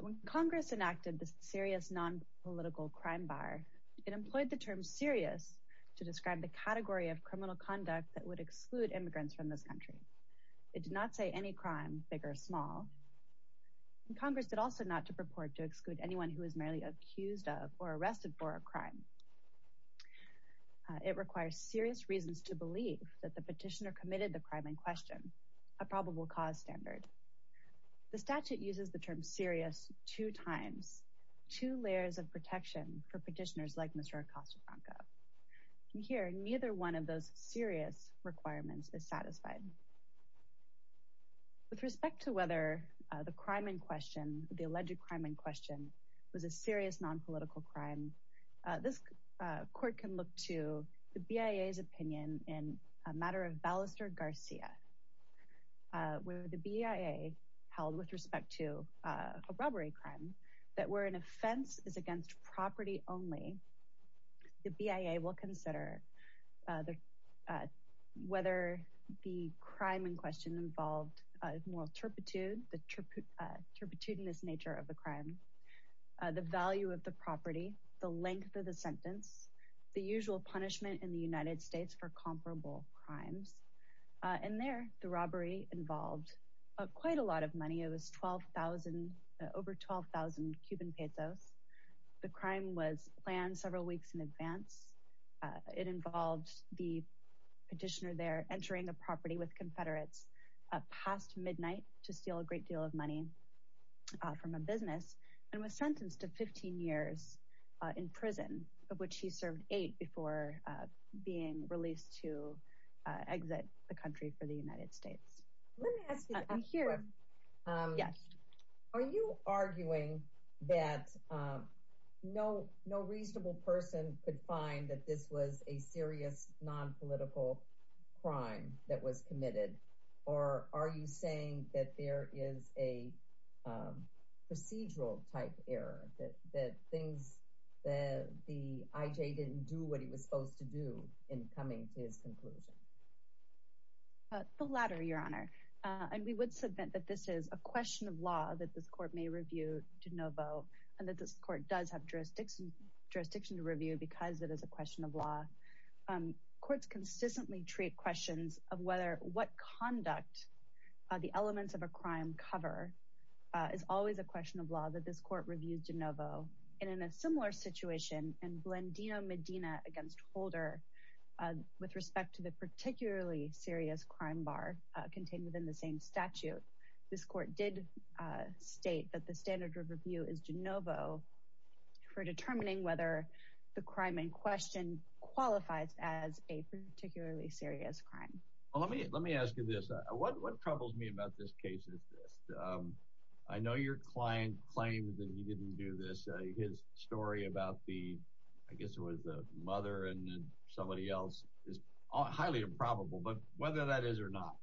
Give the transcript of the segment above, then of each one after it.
When Congress enacted the Serious Non-Political Crime Bar, it employed the term serious to describe the category of criminal conduct that would exclude immigrants from this country. It did not say any crime, big or small. And Congress did also not to purport to exclude anyone who is merely accused of or arrested for a crime. It requires serious reasons to believe that the petitioner committed the crime in question, a probable cause standard. The statute uses the term serious two times, two layers of protection for petitioners like Mr. Acosta-Franco. And here, neither one of those serious requirements is satisfied. With respect to whether the crime in question, the alleged crime in question, was a serious non-political crime, this court can look to the BIA's opinion in a matter of Ballester-Garcia, where the BIA held, with respect to a robbery crime, that where an offense is against property only, the BIA will consider whether the crime in question involved moral turpitude, the turpitudinous nature of the crime, the value of the property, the length of the sentence, the usual punishment in the United States for comparable crimes. And there, the robbery involved quite a lot of money, it was over 12,000 Cuban pesos. The crime was planned several weeks in advance. It involved the petitioner there entering a property with Confederates past midnight to steal a great deal of money from a business, and was sentenced to 15 years in prison, of which he served eight before being released to exit the country for the United States. Let me ask you a question. Yes. Are you arguing that no reasonable person could find that this was a serious non-political crime that was committed, or are you saying that there is a procedural type error, that things, that the IJ didn't do what he was supposed to do in coming to his conclusion? The latter, Your Honor. And we would submit that this is a question of law that this court may review de novo, and that this court does have jurisdiction to review because it is a question of law. Courts consistently treat questions of whether, what conduct the elements of a crime cover is always a question of law that this court reviews de novo, and in a similar situation in Blandino Medina against Holder, with respect to the particularly serious crime bar contained within the same statute, this court did state that the standard of review is de novo for determining whether the crime in question qualifies as a particularly serious crime. Let me ask you this. What troubles me about this case is this. I know your client claimed that he didn't do this. His story about the, I guess it was the mother and somebody else is highly improbable, but whether that is or not,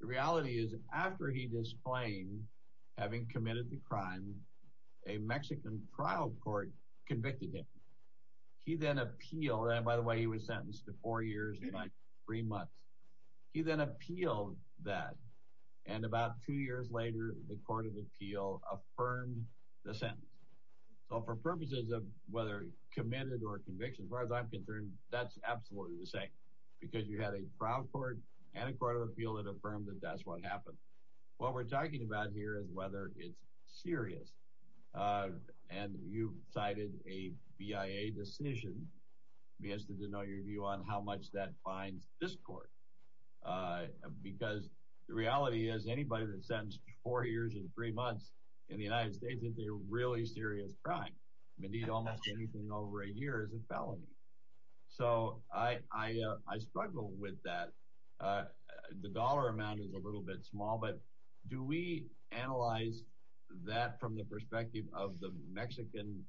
the reality is after he disclaimed having committed the crime, a Mexican trial court convicted him. He then appealed, and by the way, he was sentenced to four years and three months. He then appealed that, and about two years later, the court of appeal affirmed the sentence. So for purposes of whether committed or conviction, as far as I'm concerned, that's absolutely the same because you had a trial court and a court of appeal that affirmed that that's what happened. What we're talking about here is whether it's serious, and you cited a BIA decision. I'm interested to know your view on how much that fines this court because the reality is anybody that's sentenced to four years and three months in the United States is a really serious crime. They need almost anything over a year as a felony. So I struggle with that. The dollar amount is a little bit small, but do we analyze that from the perspective of the Mexican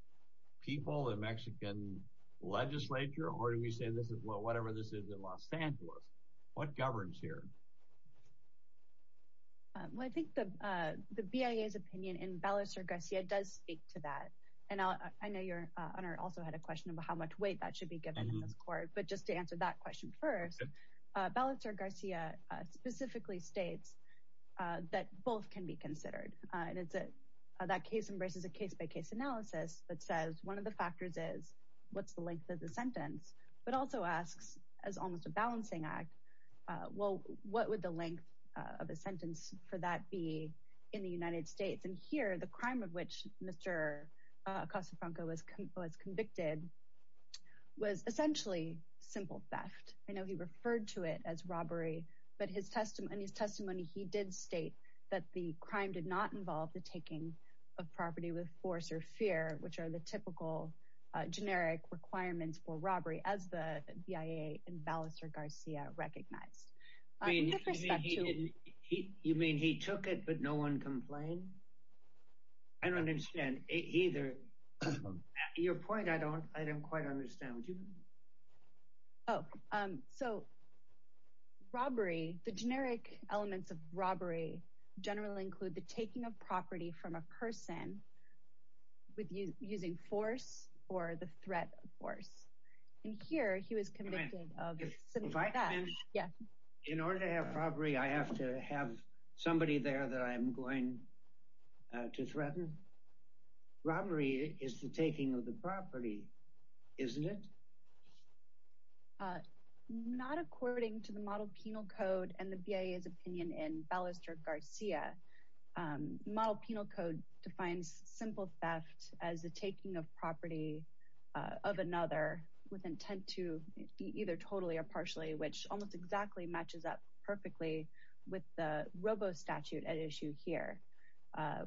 people, the Mexican legislature, or do we say this is whatever this is in Los Angeles? What governs here? Well, I think the BIA's opinion in Ballester Garcia does speak to that, and I know your honor also had a question about how much weight that should be given in this court, but just to answer that question first, Ballester Garcia specifically states that both can be considered, and that case embraces a case-by-case analysis that says one of the Well, what would the length of a sentence for that be in the United States? And here, the crime of which Mr. Acosta-Franco was convicted was essentially simple theft. I know he referred to it as robbery, but in his testimony, he did state that the crime did not involve the taking of property with force or fear, which are the typical generic requirements for robbery as the BIA in Ballester Garcia recognized. You mean he took it, but no one complained? I don't understand either. Your point, I don't quite understand. Oh, so robbery, the generic elements of robbery generally include the taking of property from a And here, he was convicted of simple theft. Yeah. In order to have robbery, I have to have somebody there that I'm going to threaten? Robbery is the taking of the property, isn't it? Not according to the model penal code and the BIA's opinion in Ballester Garcia. The model penal code defines simple theft as the taking of property of another with intent to either totally or partially, which almost exactly matches up perfectly with the robo statute at issue here,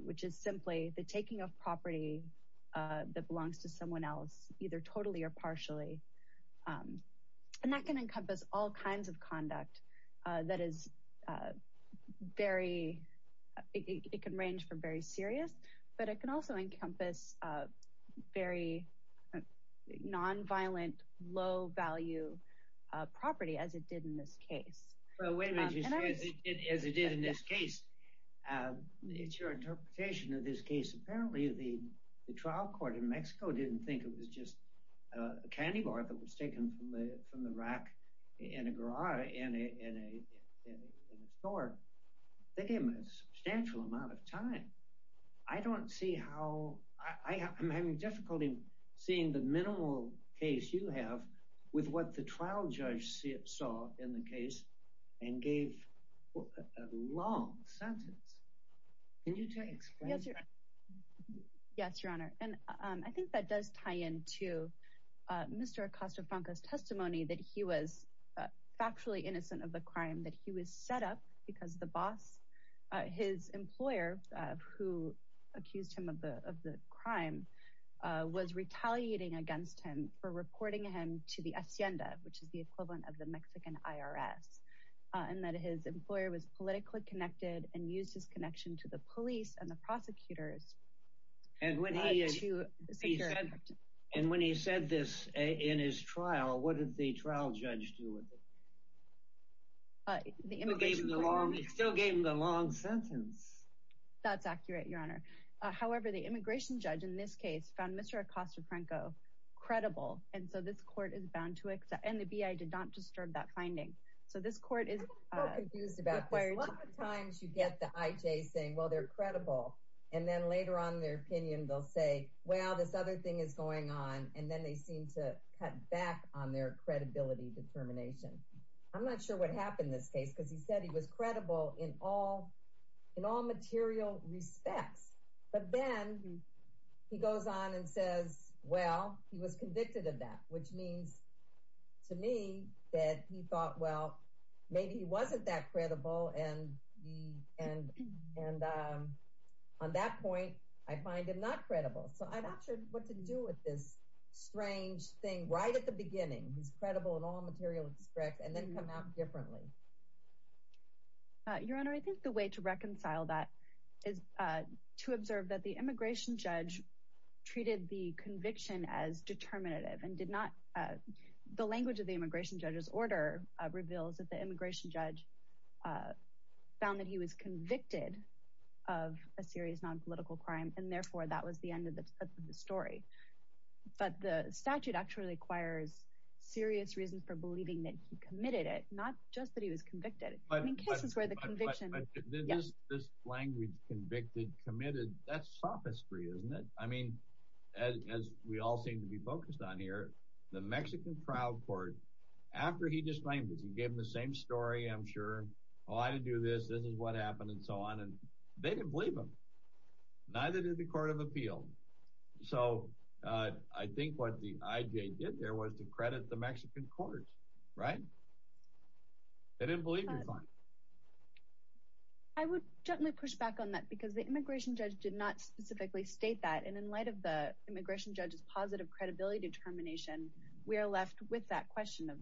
which is simply the taking of property that belongs to someone else, either totally or partially. And that can encompass all kinds of conduct that is very, it can range from very serious, but it can also encompass very nonviolent, low value property as it did in this case. Well, wait a minute, as it did in this case, it's your interpretation of this case. Apparently, the trial court in Mexico didn't think it was just a candy bar that was taken from the rack in a garage in a store. They gave him a substantial amount of time. I don't see how, I'm having difficulty seeing the minimal case you have with what the trial judge saw in the case and gave a long sentence. Can you explain that? Yes, your honor. And I think that does tie into Mr. Acosta-Franco's testimony that he was factually innocent of the crime that he was set up because the boss, his employer, who accused him of the crime, was retaliating against him for reporting him to the Hacienda, which is the equivalent of the Mexican IRS. And that his employer was politically connected and used his connection to the police and the prosecutors. And when he said this in his trial, what did the trial judge do with it? He still gave him the long sentence. That's accurate, your honor. However, the immigration judge in this case found Mr. Acosta-Franco credible. And so this court is bound to accept, and the BIA did not disturb that finding. So this court is- I'm so confused about this. A lot of times you get the IJ saying, well, they're credible. And then later on in their opinion, they'll say, well, this other thing is going on. And then they seem to cut back on their credibility determination. I'm not sure what happened in this case, because he said he was credible in all material respects. But then he goes on and says, well, he was convicted of that, which means to me that he thought, well, maybe he wasn't that credible. And on that point, I find him not credible. So I'm not sure what to do with this strange thing right at the beginning. He's credible in all material respects, and then come out differently. Your honor, I think the way to reconcile that is to observe that the immigration judge treated the conviction as determinative and did not- The immigration judge found that he was convicted of a serious non-political crime, and therefore, that was the end of the story. But the statute actually requires serious reasons for believing that he committed it, not just that he was convicted. I mean, cases where the conviction- But this language, convicted, committed, that's sophistry, isn't it? I mean, as we all seem to I'm sure. Well, I didn't do this. This is what happened, and so on. And they didn't believe him. Neither did the Court of Appeal. So I think what the IJ did there was to credit the Mexican courts, right? They didn't believe the crime. I would definitely push back on that, because the immigration judge did not specifically state that. And in light of the immigration judge's positive credibility determination, we are left with that question of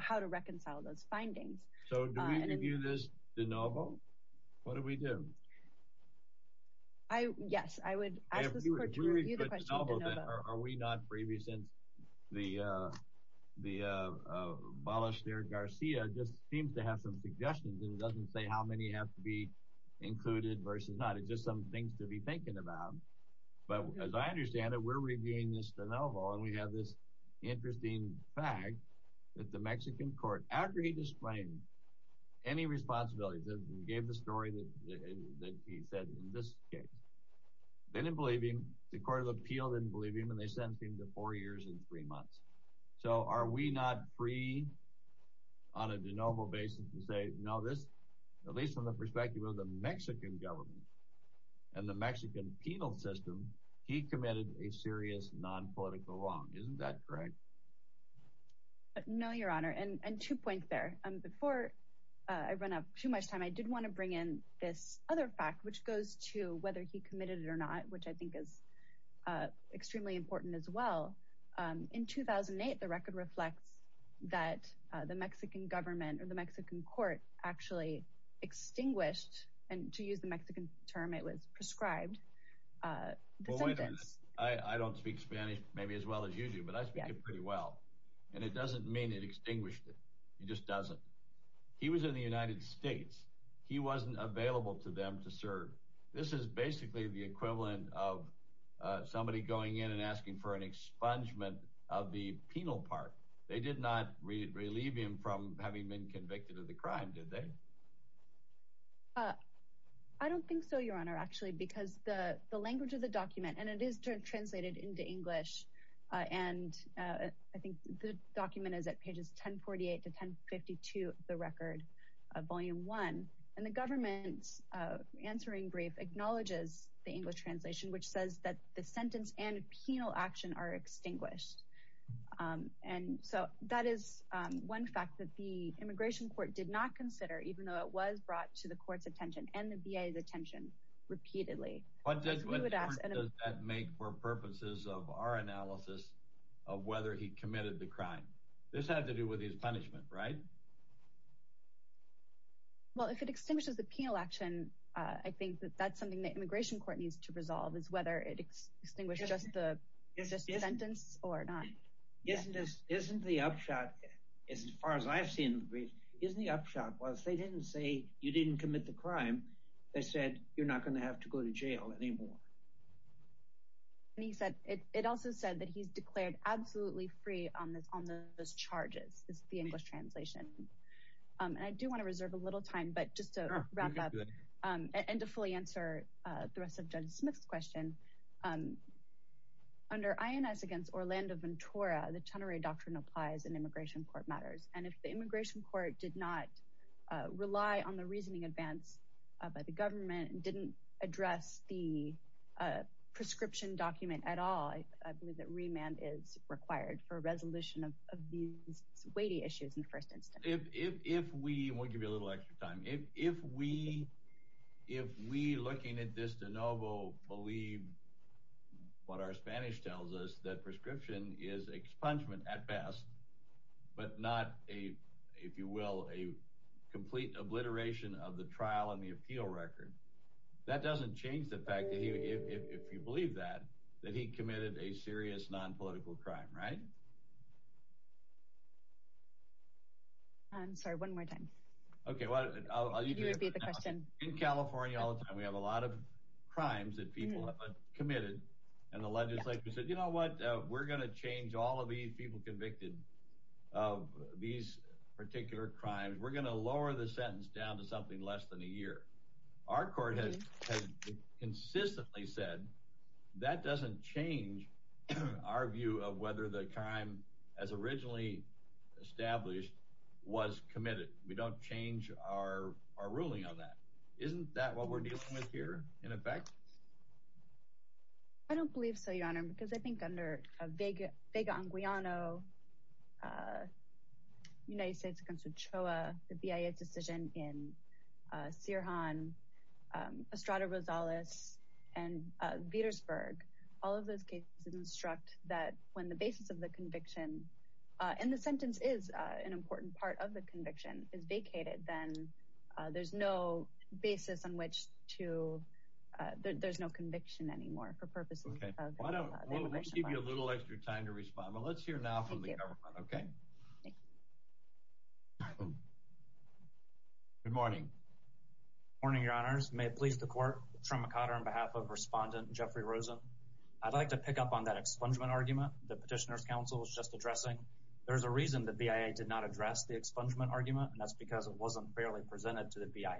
how to reconcile those So do we review this de novo? What do we do? Yes, I would ask this court to review the question of de novo. Are we not, since the abolisher Garcia just seems to have some suggestions, and it doesn't say how many have to be included versus not. It's just some things to be thinking about. But as I understand it, we're reviewing this de novo, and we have this interesting fact that the Mexican government, the Mexican penal system, he committed a serious non-political wrong. Isn't that correct? No, Your Honor. And two points there. Before I run out too much time, I did want to bring in this other fact, which goes to whether he committed it or not, which I think is extremely important as well. In 2008, the record reflects that the Mexican government or the Mexican court actually extinguished, and to use the Mexican term, it was prescribed the sentence. I don't speak Spanish maybe as well as you do, but I speak it pretty well. And it doesn't mean it extinguished it. It just doesn't. He was in the United States. He wasn't available to them to serve. This is basically the equivalent of somebody going in and asking for an expungement of the penal part. They did not relieve him from having been convicted of the crime, did they? I don't think so, Your Honor, actually, because the language of the translated into English, and I think the document is at pages 1048 to 1052 of the record, volume one, and the government's answering brief acknowledges the English translation, which says that the sentence and penal action are extinguished. And so that is one fact that the immigration court did not consider, even though it was brought to the court's attention and the VA's attention repeatedly. What difference does that make for purposes of our analysis of whether he committed the crime? This had to do with his punishment, right? Well, if it extinguishes the penal action, I think that that's something the immigration court needs to resolve, is whether it extinguished just the sentence or not. Isn't the upshot, as far as I've seen, isn't the upshot was they didn't say you're not going to have to go to jail anymore. And he said, it also said that he's declared absolutely free on those charges, is the English translation. And I do want to reserve a little time, but just to wrap up and to fully answer the rest of Judge Smith's question, under INS against Orlando Ventura, the Chenerey Doctrine applies in immigration court matters. And if the immigration court did not rely on the reasoning advance by the government and didn't address the prescription document at all, I believe that remand is required for a resolution of these weighty issues in the first instance. If we, and we'll give you a little extra time, if we looking at this de novo believe what our Spanish tells us, that prescription is expungement at best, but not a, if you will, a complete obliteration of the trial and the appeal record, that doesn't change the fact that he, if you believe that, that he committed a serious non-political crime, right? I'm sorry, one more time. Okay. Well, I'll let you repeat the question. In California all the time, we have a lot of crimes that people have committed and the legislature said, you know what, we're going to change all of these people convicted of these particular crimes. We're going to lower the sentence down to something less than a year. Our court has consistently said that doesn't change our view of whether the crime as originally established was committed. We don't change our ruling on that. Isn't that what we're dealing with here in effect? I don't believe so, Your Honor, because I think under Vega-Anguillano, United States against UCHOA, the BIA decision in Sirhan, Estrada Rosales, and Petersburg, all of those cases instruct that when the basis of the conviction, and the sentence is an important part of the conviction, is vacated, then there's no basis on which to, there's no conviction anymore for purposes of the immigration law. Okay, why don't, we'll give you a little extra time to respond, but let's hear now from the government. Okay. Good morning. Good morning, Your Honors. May it please the Court, Trent McOtter on behalf of Respondent Jeffrey Rosen. I'd like to pick up on that expungement argument that Petitioner's Counsel was just addressing. There's a reason the BIA did not address the expungement argument, and that's because it presented to the BIA.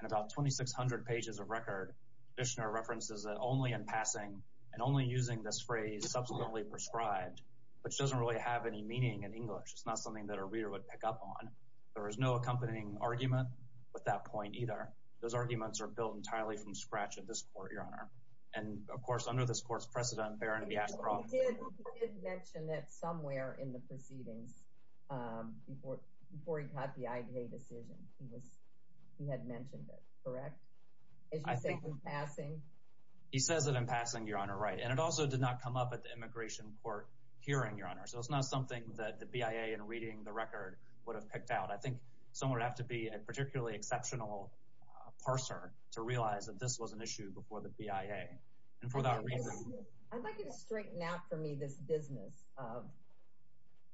And about 2,600 pages of record, Petitioner references that only in passing, and only using this phrase, subsequently prescribed, which doesn't really have any meaning in English. It's not something that a reader would pick up on. There was no accompanying argument with that point either. Those arguments are built entirely from scratch at this Court, Your Honor. And of course, under this Court's precedent, Barron, if he has a problem. He did mention that somewhere in the proceedings, before he caught the IJ decision, he had mentioned it, correct? As you say, in passing? He says it in passing, Your Honor, right. And it also did not come up at the immigration court hearing, Your Honor. So it's not something that the BIA, in reading the record, would have picked out. I think someone would have to be a particularly exceptional parser to realize that this was an issue before the BIA. And for that reason— I'd like you to straighten out for me this business of,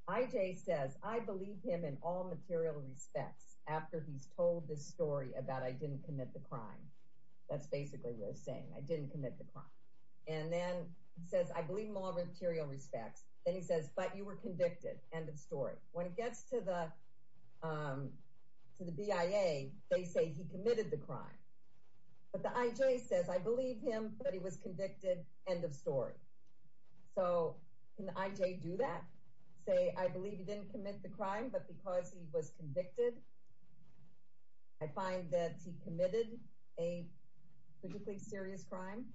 IJ says, I believe him in all material respects after he's told this story about I didn't commit the crime. That's basically what he's saying. I didn't commit the crime. And then he says, I believe him in all material respects. Then he says, but you were convicted. End of story. When it gets to the BIA, they say committed the crime. But the IJ says, I believe him, but he was convicted. End of story. So can the IJ do that? Say, I believe he didn't commit the crime, but because he was convicted, I find that he committed a particularly serious crime?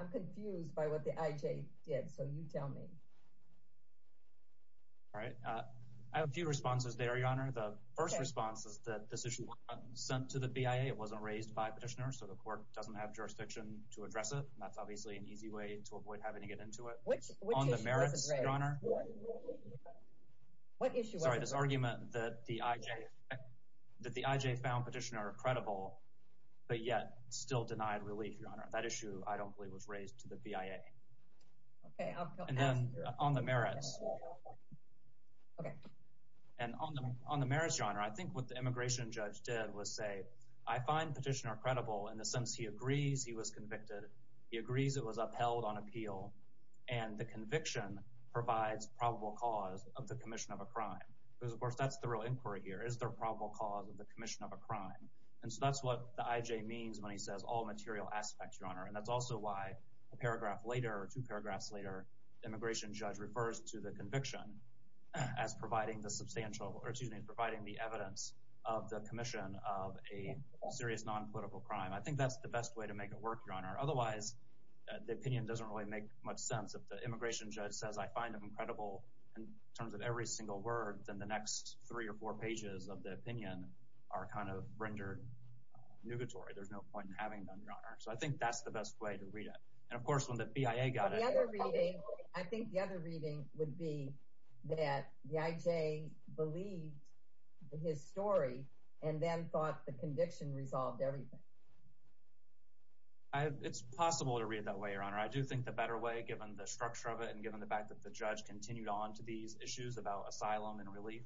I'm confused by what the IJ did. So you tell me. All right. I have a few responses there, Your Honor. The first response is that this issue wasn't sent to the BIA. It wasn't raised by petitioners. So the court doesn't have jurisdiction to address it. And that's obviously an easy way to avoid having to get into it. On the merits, Your Honor. Sorry, this argument that the IJ found petitioner credible, but yet still denied relief, Your Honor. That issue, I don't believe, was raised to the BIA. Okay. And then on the merits. Okay. And on the merits, Your Honor, I think what the immigration judge did was say, I find petitioner credible in the sense he agrees he was convicted. He agrees it was upheld on appeal. And the conviction provides probable cause of the commission of a crime. Because, of course, that's the real inquiry here. Is there probable cause of the commission of a crime? And so that's what the IJ means when he says all material aspects, Your Honor. And that's also why a paragraph later or two paragraphs later, the immigration judge refers to the conviction as providing the evidence of the commission of a serious non-political crime. I think that's the best way to make it work, Your Honor. Otherwise, the opinion doesn't really make much sense. If the immigration judge says I find him credible in terms of every single word, then the next three or four pages of the opinion are kind of rendered nugatory. There's no point in having them, Your Honor. So I think that's the best way to read it. And, of course, when the BIA got it, I think the other reading would be that the IJ believed his story and then thought the conviction resolved everything. It's possible to read that way, Your Honor. I do think the better way, given the structure of it and given the fact that the judge continued on to these issues about asylum and relief,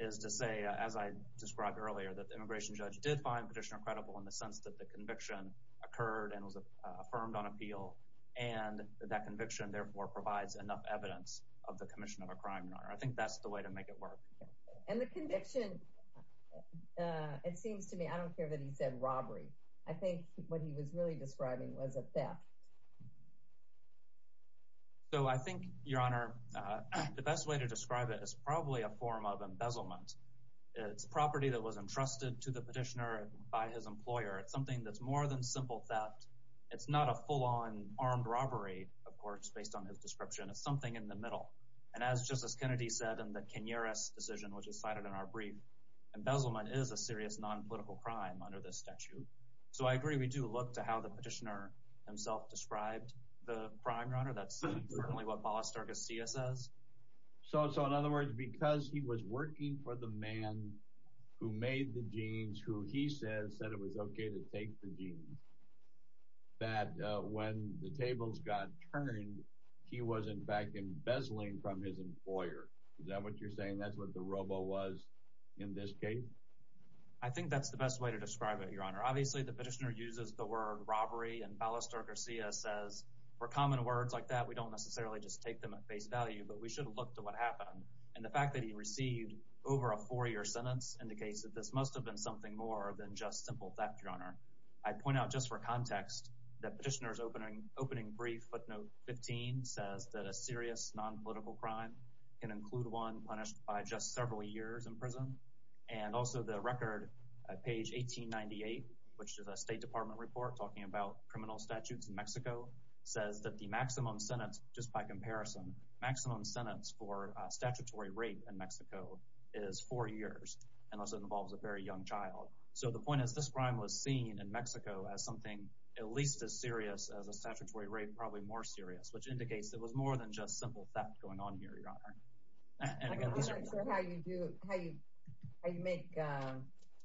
is to say, as I described earlier, that the immigration judge did find Petitioner credible in the sense that the conviction occurred and was affirmed on appeal. And that conviction, therefore, provides enough evidence of the commission of a crime, Your Honor. I think that's the way to make it work. And the conviction, it seems to me, I don't care that he said robbery. I think what he was really describing was a theft. So I think, Your Honor, the best way to describe it is probably a form of embezzlement. It's property that was entrusted to the Petitioner by his employer. It's something that's more than simple theft. It's not a full-on armed robbery, of course, based on his description. It's something in the middle. And as Justice Kennedy said in the Kenyiris decision, which is cited in our brief, embezzlement is a serious non-political crime under this statute. So I agree we do look to the Petitioner himself described the crime, Your Honor. That's certainly what Ballesterga-Cia says. So in other words, because he was working for the man who made the jeans, who he said said it was okay to take the jeans, that when the tables got turned, he was, in fact, embezzling from his employer. Is that what you're saying? That's what the robo was in this case? I think that's the best way to describe it, Your Honor. Obviously, the Petitioner uses the word robbery, and Ballesterga-Cia says, for common words like that, we don't necessarily just take them at face value, but we should look to what happened. And the fact that he received over a four-year sentence indicates that this must have been something more than just simple theft, Your Honor. I point out just for context that Petitioner's opening brief, footnote 15, says that a serious non-political crime can include one punished by just several years in prison. And also, the record, page 1898, which is a State Department report talking about criminal statutes in Mexico, says that the maximum sentence, just by comparison, maximum sentence for statutory rape in Mexico is four years, unless it involves a very young child. So the point is, this crime was seen in Mexico as something at least as serious as a statutory rape, probably more serious, which indicates it was more than just simple theft going on here, Your Honor. I'm not sure how you do, how you make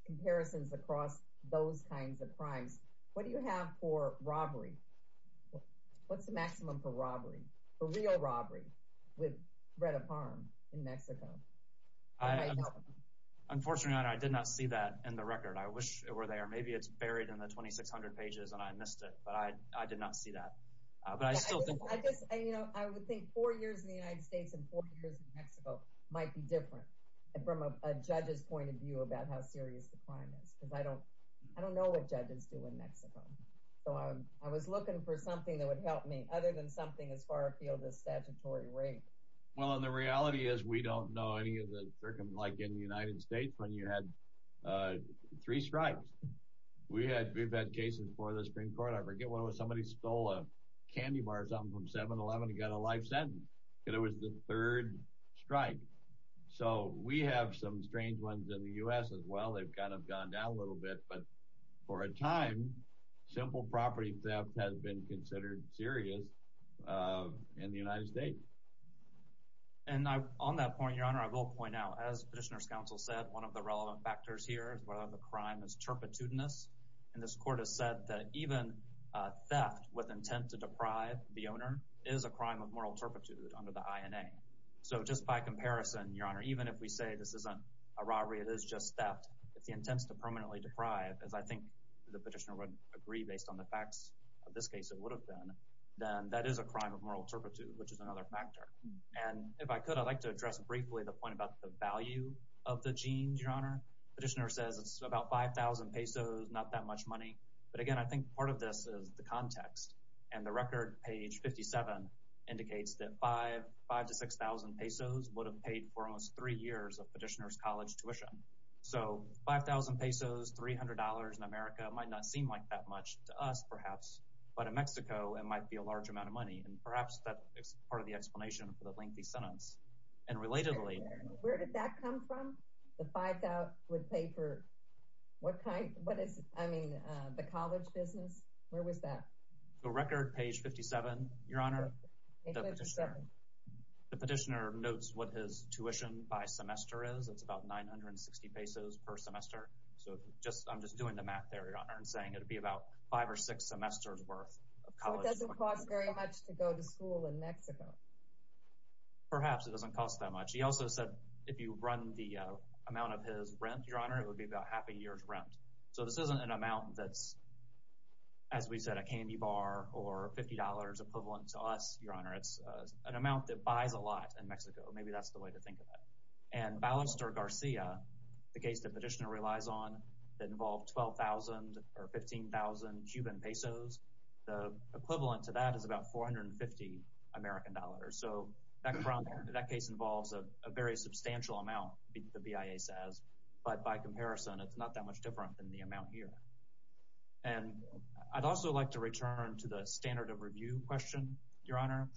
comparisons across those kinds of crimes. What do you have for robbery? What's the maximum for robbery, for real robbery, with threat of harm in Mexico? Unfortunately, Your Honor, I did not see that in the record. I wish it were there. Maybe it's buried in the 2,600 pages and I missed it, but I did not see that. I would think four years in the United States and four years in Mexico might be different from a judge's point of view about how serious the crime is, because I don't know what judges do in Mexico. So I was looking for something that would help me, other than something as far afield as statutory rape. Well, and the reality is we don't know any of the circumstances, like in the United States, when you had three strikes. We've had cases before the Supreme Court. I forget what it was, a candy bar or something from 7-Eleven got a life sentence, and it was the third strike. So we have some strange ones in the U.S. as well. They've kind of gone down a little bit, but for a time, simple property theft has been considered serious in the United States. And on that point, Your Honor, I will point out, as Petitioner's Counsel said, one of the relevant factors here is whether the crime is turpitude-ness. And this Court has said that even theft with intent to deprive the owner is a crime of moral turpitude under the INA. So just by comparison, Your Honor, even if we say this isn't a robbery, it is just theft, if the intent is to permanently deprive, as I think the Petitioner would agree based on the facts of this case it would have been, then that is a crime of moral turpitude, which is another factor. And if I could, I'd like to address briefly the point about the value of the jeans, Your Honor. Petitioner says it's about 5,000 pesos, not that much money. But again, I think part of this is the context. And the record, page 57, indicates that 5,000 to 6,000 pesos would have paid for almost three years of Petitioner's college tuition. So 5,000 pesos, $300 in America might not seem like that much to us, perhaps, but in Mexico, it might be a large amount of money. And perhaps that is part of the explanation for the lengthy sentence. And the record, page 57, Your Honor, the Petitioner notes what his tuition by semester is. It's about 960 pesos per semester. So I'm just doing the math there, Your Honor, and saying it would be about five or six semesters worth. So it doesn't cost very much to go to school in Mexico. But perhaps it doesn't cost that much. He also said if you run the amount of his rent, Your Honor, it would be about half a year's rent. So this isn't an amount that's, as we said, a candy bar or $50 equivalent to us, Your Honor. It's an amount that buys a lot in Mexico. Maybe that's the way to think of it. And Ballester Garcia, the case that Petitioner relies on, that involved 12,000 or 15,000 Cuban pesos. The equivalent to that is about 450 American dollars. So that case involves a very substantial amount, the BIA says. But by comparison, it's not that much different than the amount here. And I'd also like to return to the standard of review question, Your Honor.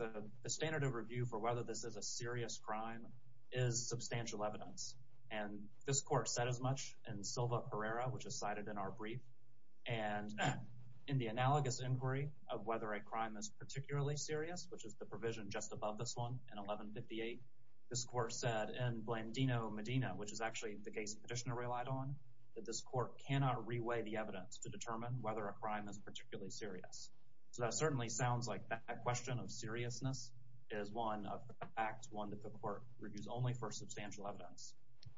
The standard of review for whether this is a serious crime is substantial evidence. And this court said as much in Silva-Herrera, which is cited in our brief. And in the analogous inquiry of whether a crime is particularly serious, which is the provision just above this one in 1158, this court said in Blandino-Medina, which is actually the case Petitioner relied on, that this court cannot reweigh the evidence to determine whether a crime is particularly serious. So that certainly sounds like that question of seriousness is one of the facts, one that the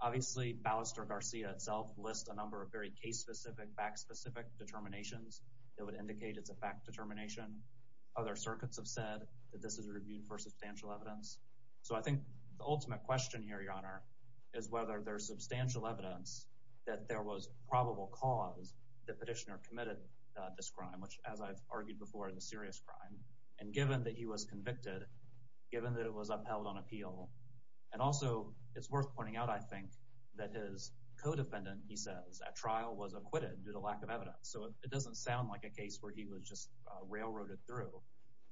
obviously Ballester Garcia itself lists a number of very case-specific, fact-specific determinations that would indicate it's a fact determination. Other circuits have said that this is reviewed for substantial evidence. So I think the ultimate question here, Your Honor, is whether there's substantial evidence that there was probable cause that Petitioner committed this crime, which as I've argued before, is a serious crime. And given that he was convicted, given that it was upheld on appeal, and also it's worth pointing out, I think, that his co-defendant, he says, at trial was acquitted due to lack of evidence. So it doesn't sound like a case where he was just railroaded through.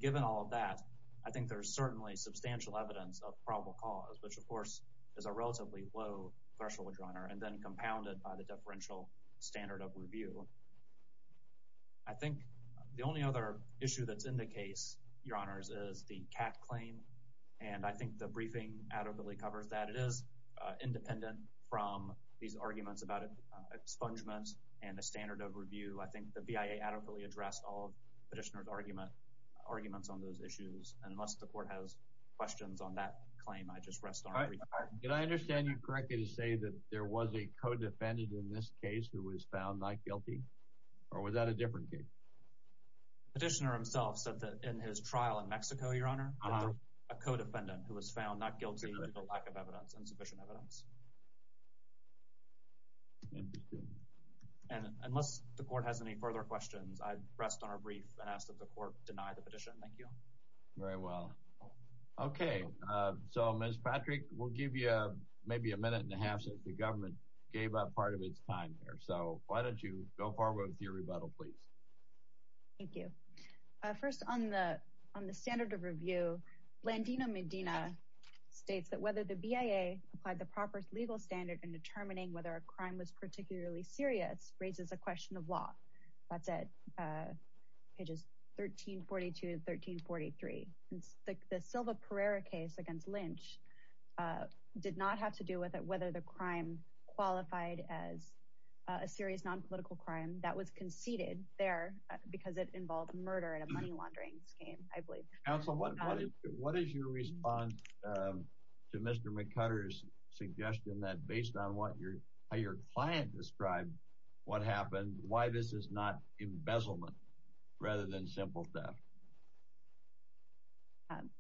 Given all of that, I think there's certainly substantial evidence of probable cause, which of course is a relatively low threshold, Your Honor, and then compounded by the deferential standard of review. I think the only other issue that's in the case, Your Honor, is the CAC claim. And I think the briefing adequately covers that. It is independent from these arguments about expungements and the standard of review. I think the BIA adequately addressed all of Petitioner's arguments on those issues. And unless the Court has questions on that claim, I just rest on the brief. Can I understand you correctly to say that there was a co-defendant in this case who was found not guilty? Or was that a different case? Petitioner himself said that in his trial in Mexico, Your Honor, a co-defendant who was found not guilty due to lack of evidence, insufficient evidence. And unless the Court has any further questions, I rest on our brief and ask that the Court deny the petition. Thank you. Very well. Okay. So, Ms. Patrick, we'll give you maybe a minute and a half since the government gave up part of its time here. So why don't you go forward with your rebuttal, please. Thank you. First, on the standard of review, Blandino-Medina states that whether the BIA applied the proper legal standard in determining whether a crime was particularly serious raises a question of law. That's at pages 1342 and 1343. And the Silva-Perera case against Lynch did not have to do with whether the crime qualified as a serious non-political crime. That was conceded there because it involved murder and a money laundering scheme, I believe. Counsel, what is your response to Mr. McCutter's suggestion that based on what your client described what happened, why this is not embezzlement rather than simple theft?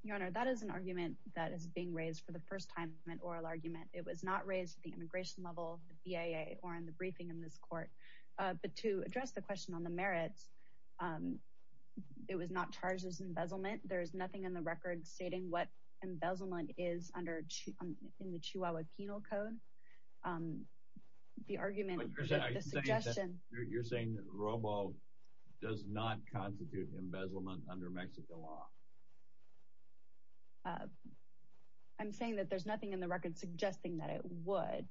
Your Honor, that is an argument that is being raised for the first time in oral argument. It was not raised at the immigration level of the BIA or in the briefing in this court. But to address the question on the merits, it was not charged as embezzlement. There is nothing in the record stating what embezzlement is in the Chihuahua Penal Code. The argument, the suggestion— You're saying that Robo does not constitute embezzlement under Mexican law? I'm saying that there's nothing in the record suggesting that it would.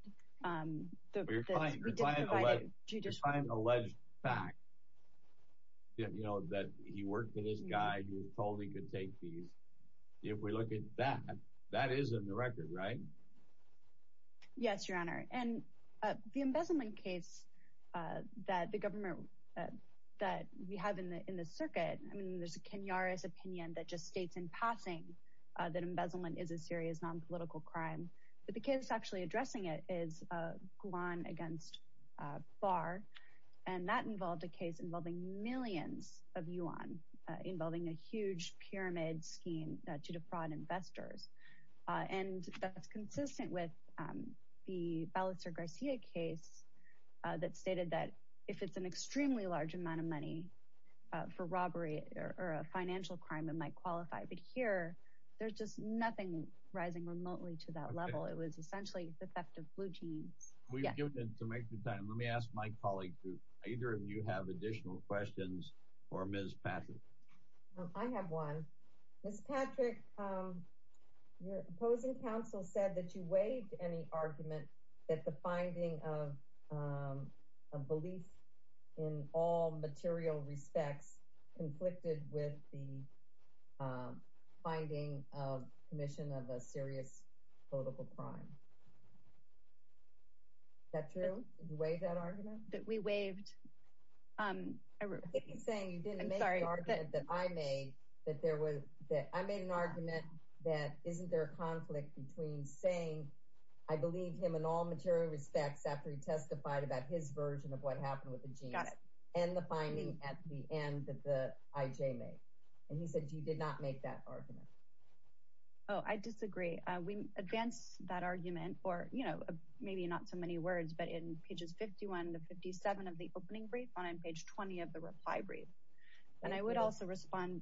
You're defying an alleged fact that he worked in his guide, he was told he could take these. If we look at that, that is in the record, right? Yes, Your Honor. And the embezzlement case that the government, that we have in the circuit, I mean, there's a Kenyaris opinion that just states in passing that embezzlement is a serious non-political crime. But the case actually addressing it is Guan against Barr. And that involved a case involving millions of yuan, involving a huge pyramid scheme to defraud investors. And that's consistent with the stated that if it's an extremely large amount of money for robbery or a financial crime, it might qualify. But here, there's just nothing rising remotely to that level. It was essentially the theft of blue jeans. We've given it to make the time. Let me ask my colleague to either of you have additional questions or Ms. Patrick. I have one. Ms. Patrick, your opposing counsel said that you waived any argument that the finding of a belief in all material respects conflicted with the finding of commission of a serious political crime. Is that true? Did you waive that argument? We waived. If he's saying you didn't make the argument that I made, that there was, that I made an argument that isn't there a conflict between saying, I believe him in all material respects after he testified about his version of what happened with the jeans and the finding at the end that the IJ made. And he said, you did not make that argument. Oh, I disagree. We advance that argument or, you know, maybe not so many words, but in pages 51 to 57 of the opening brief on page 20 of the reply brief. And I would also respond.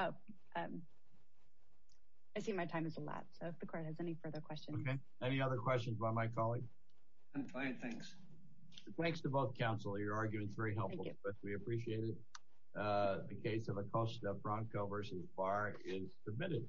Oh, I see my time has elapsed. So if the court has any further questions. Okay. Any other questions by my colleague? I'm fine. Thanks. Thanks to both counsel. Your argument is very helpful, but we appreciate it. The case of Acosta Bronco versus Barr is submitted.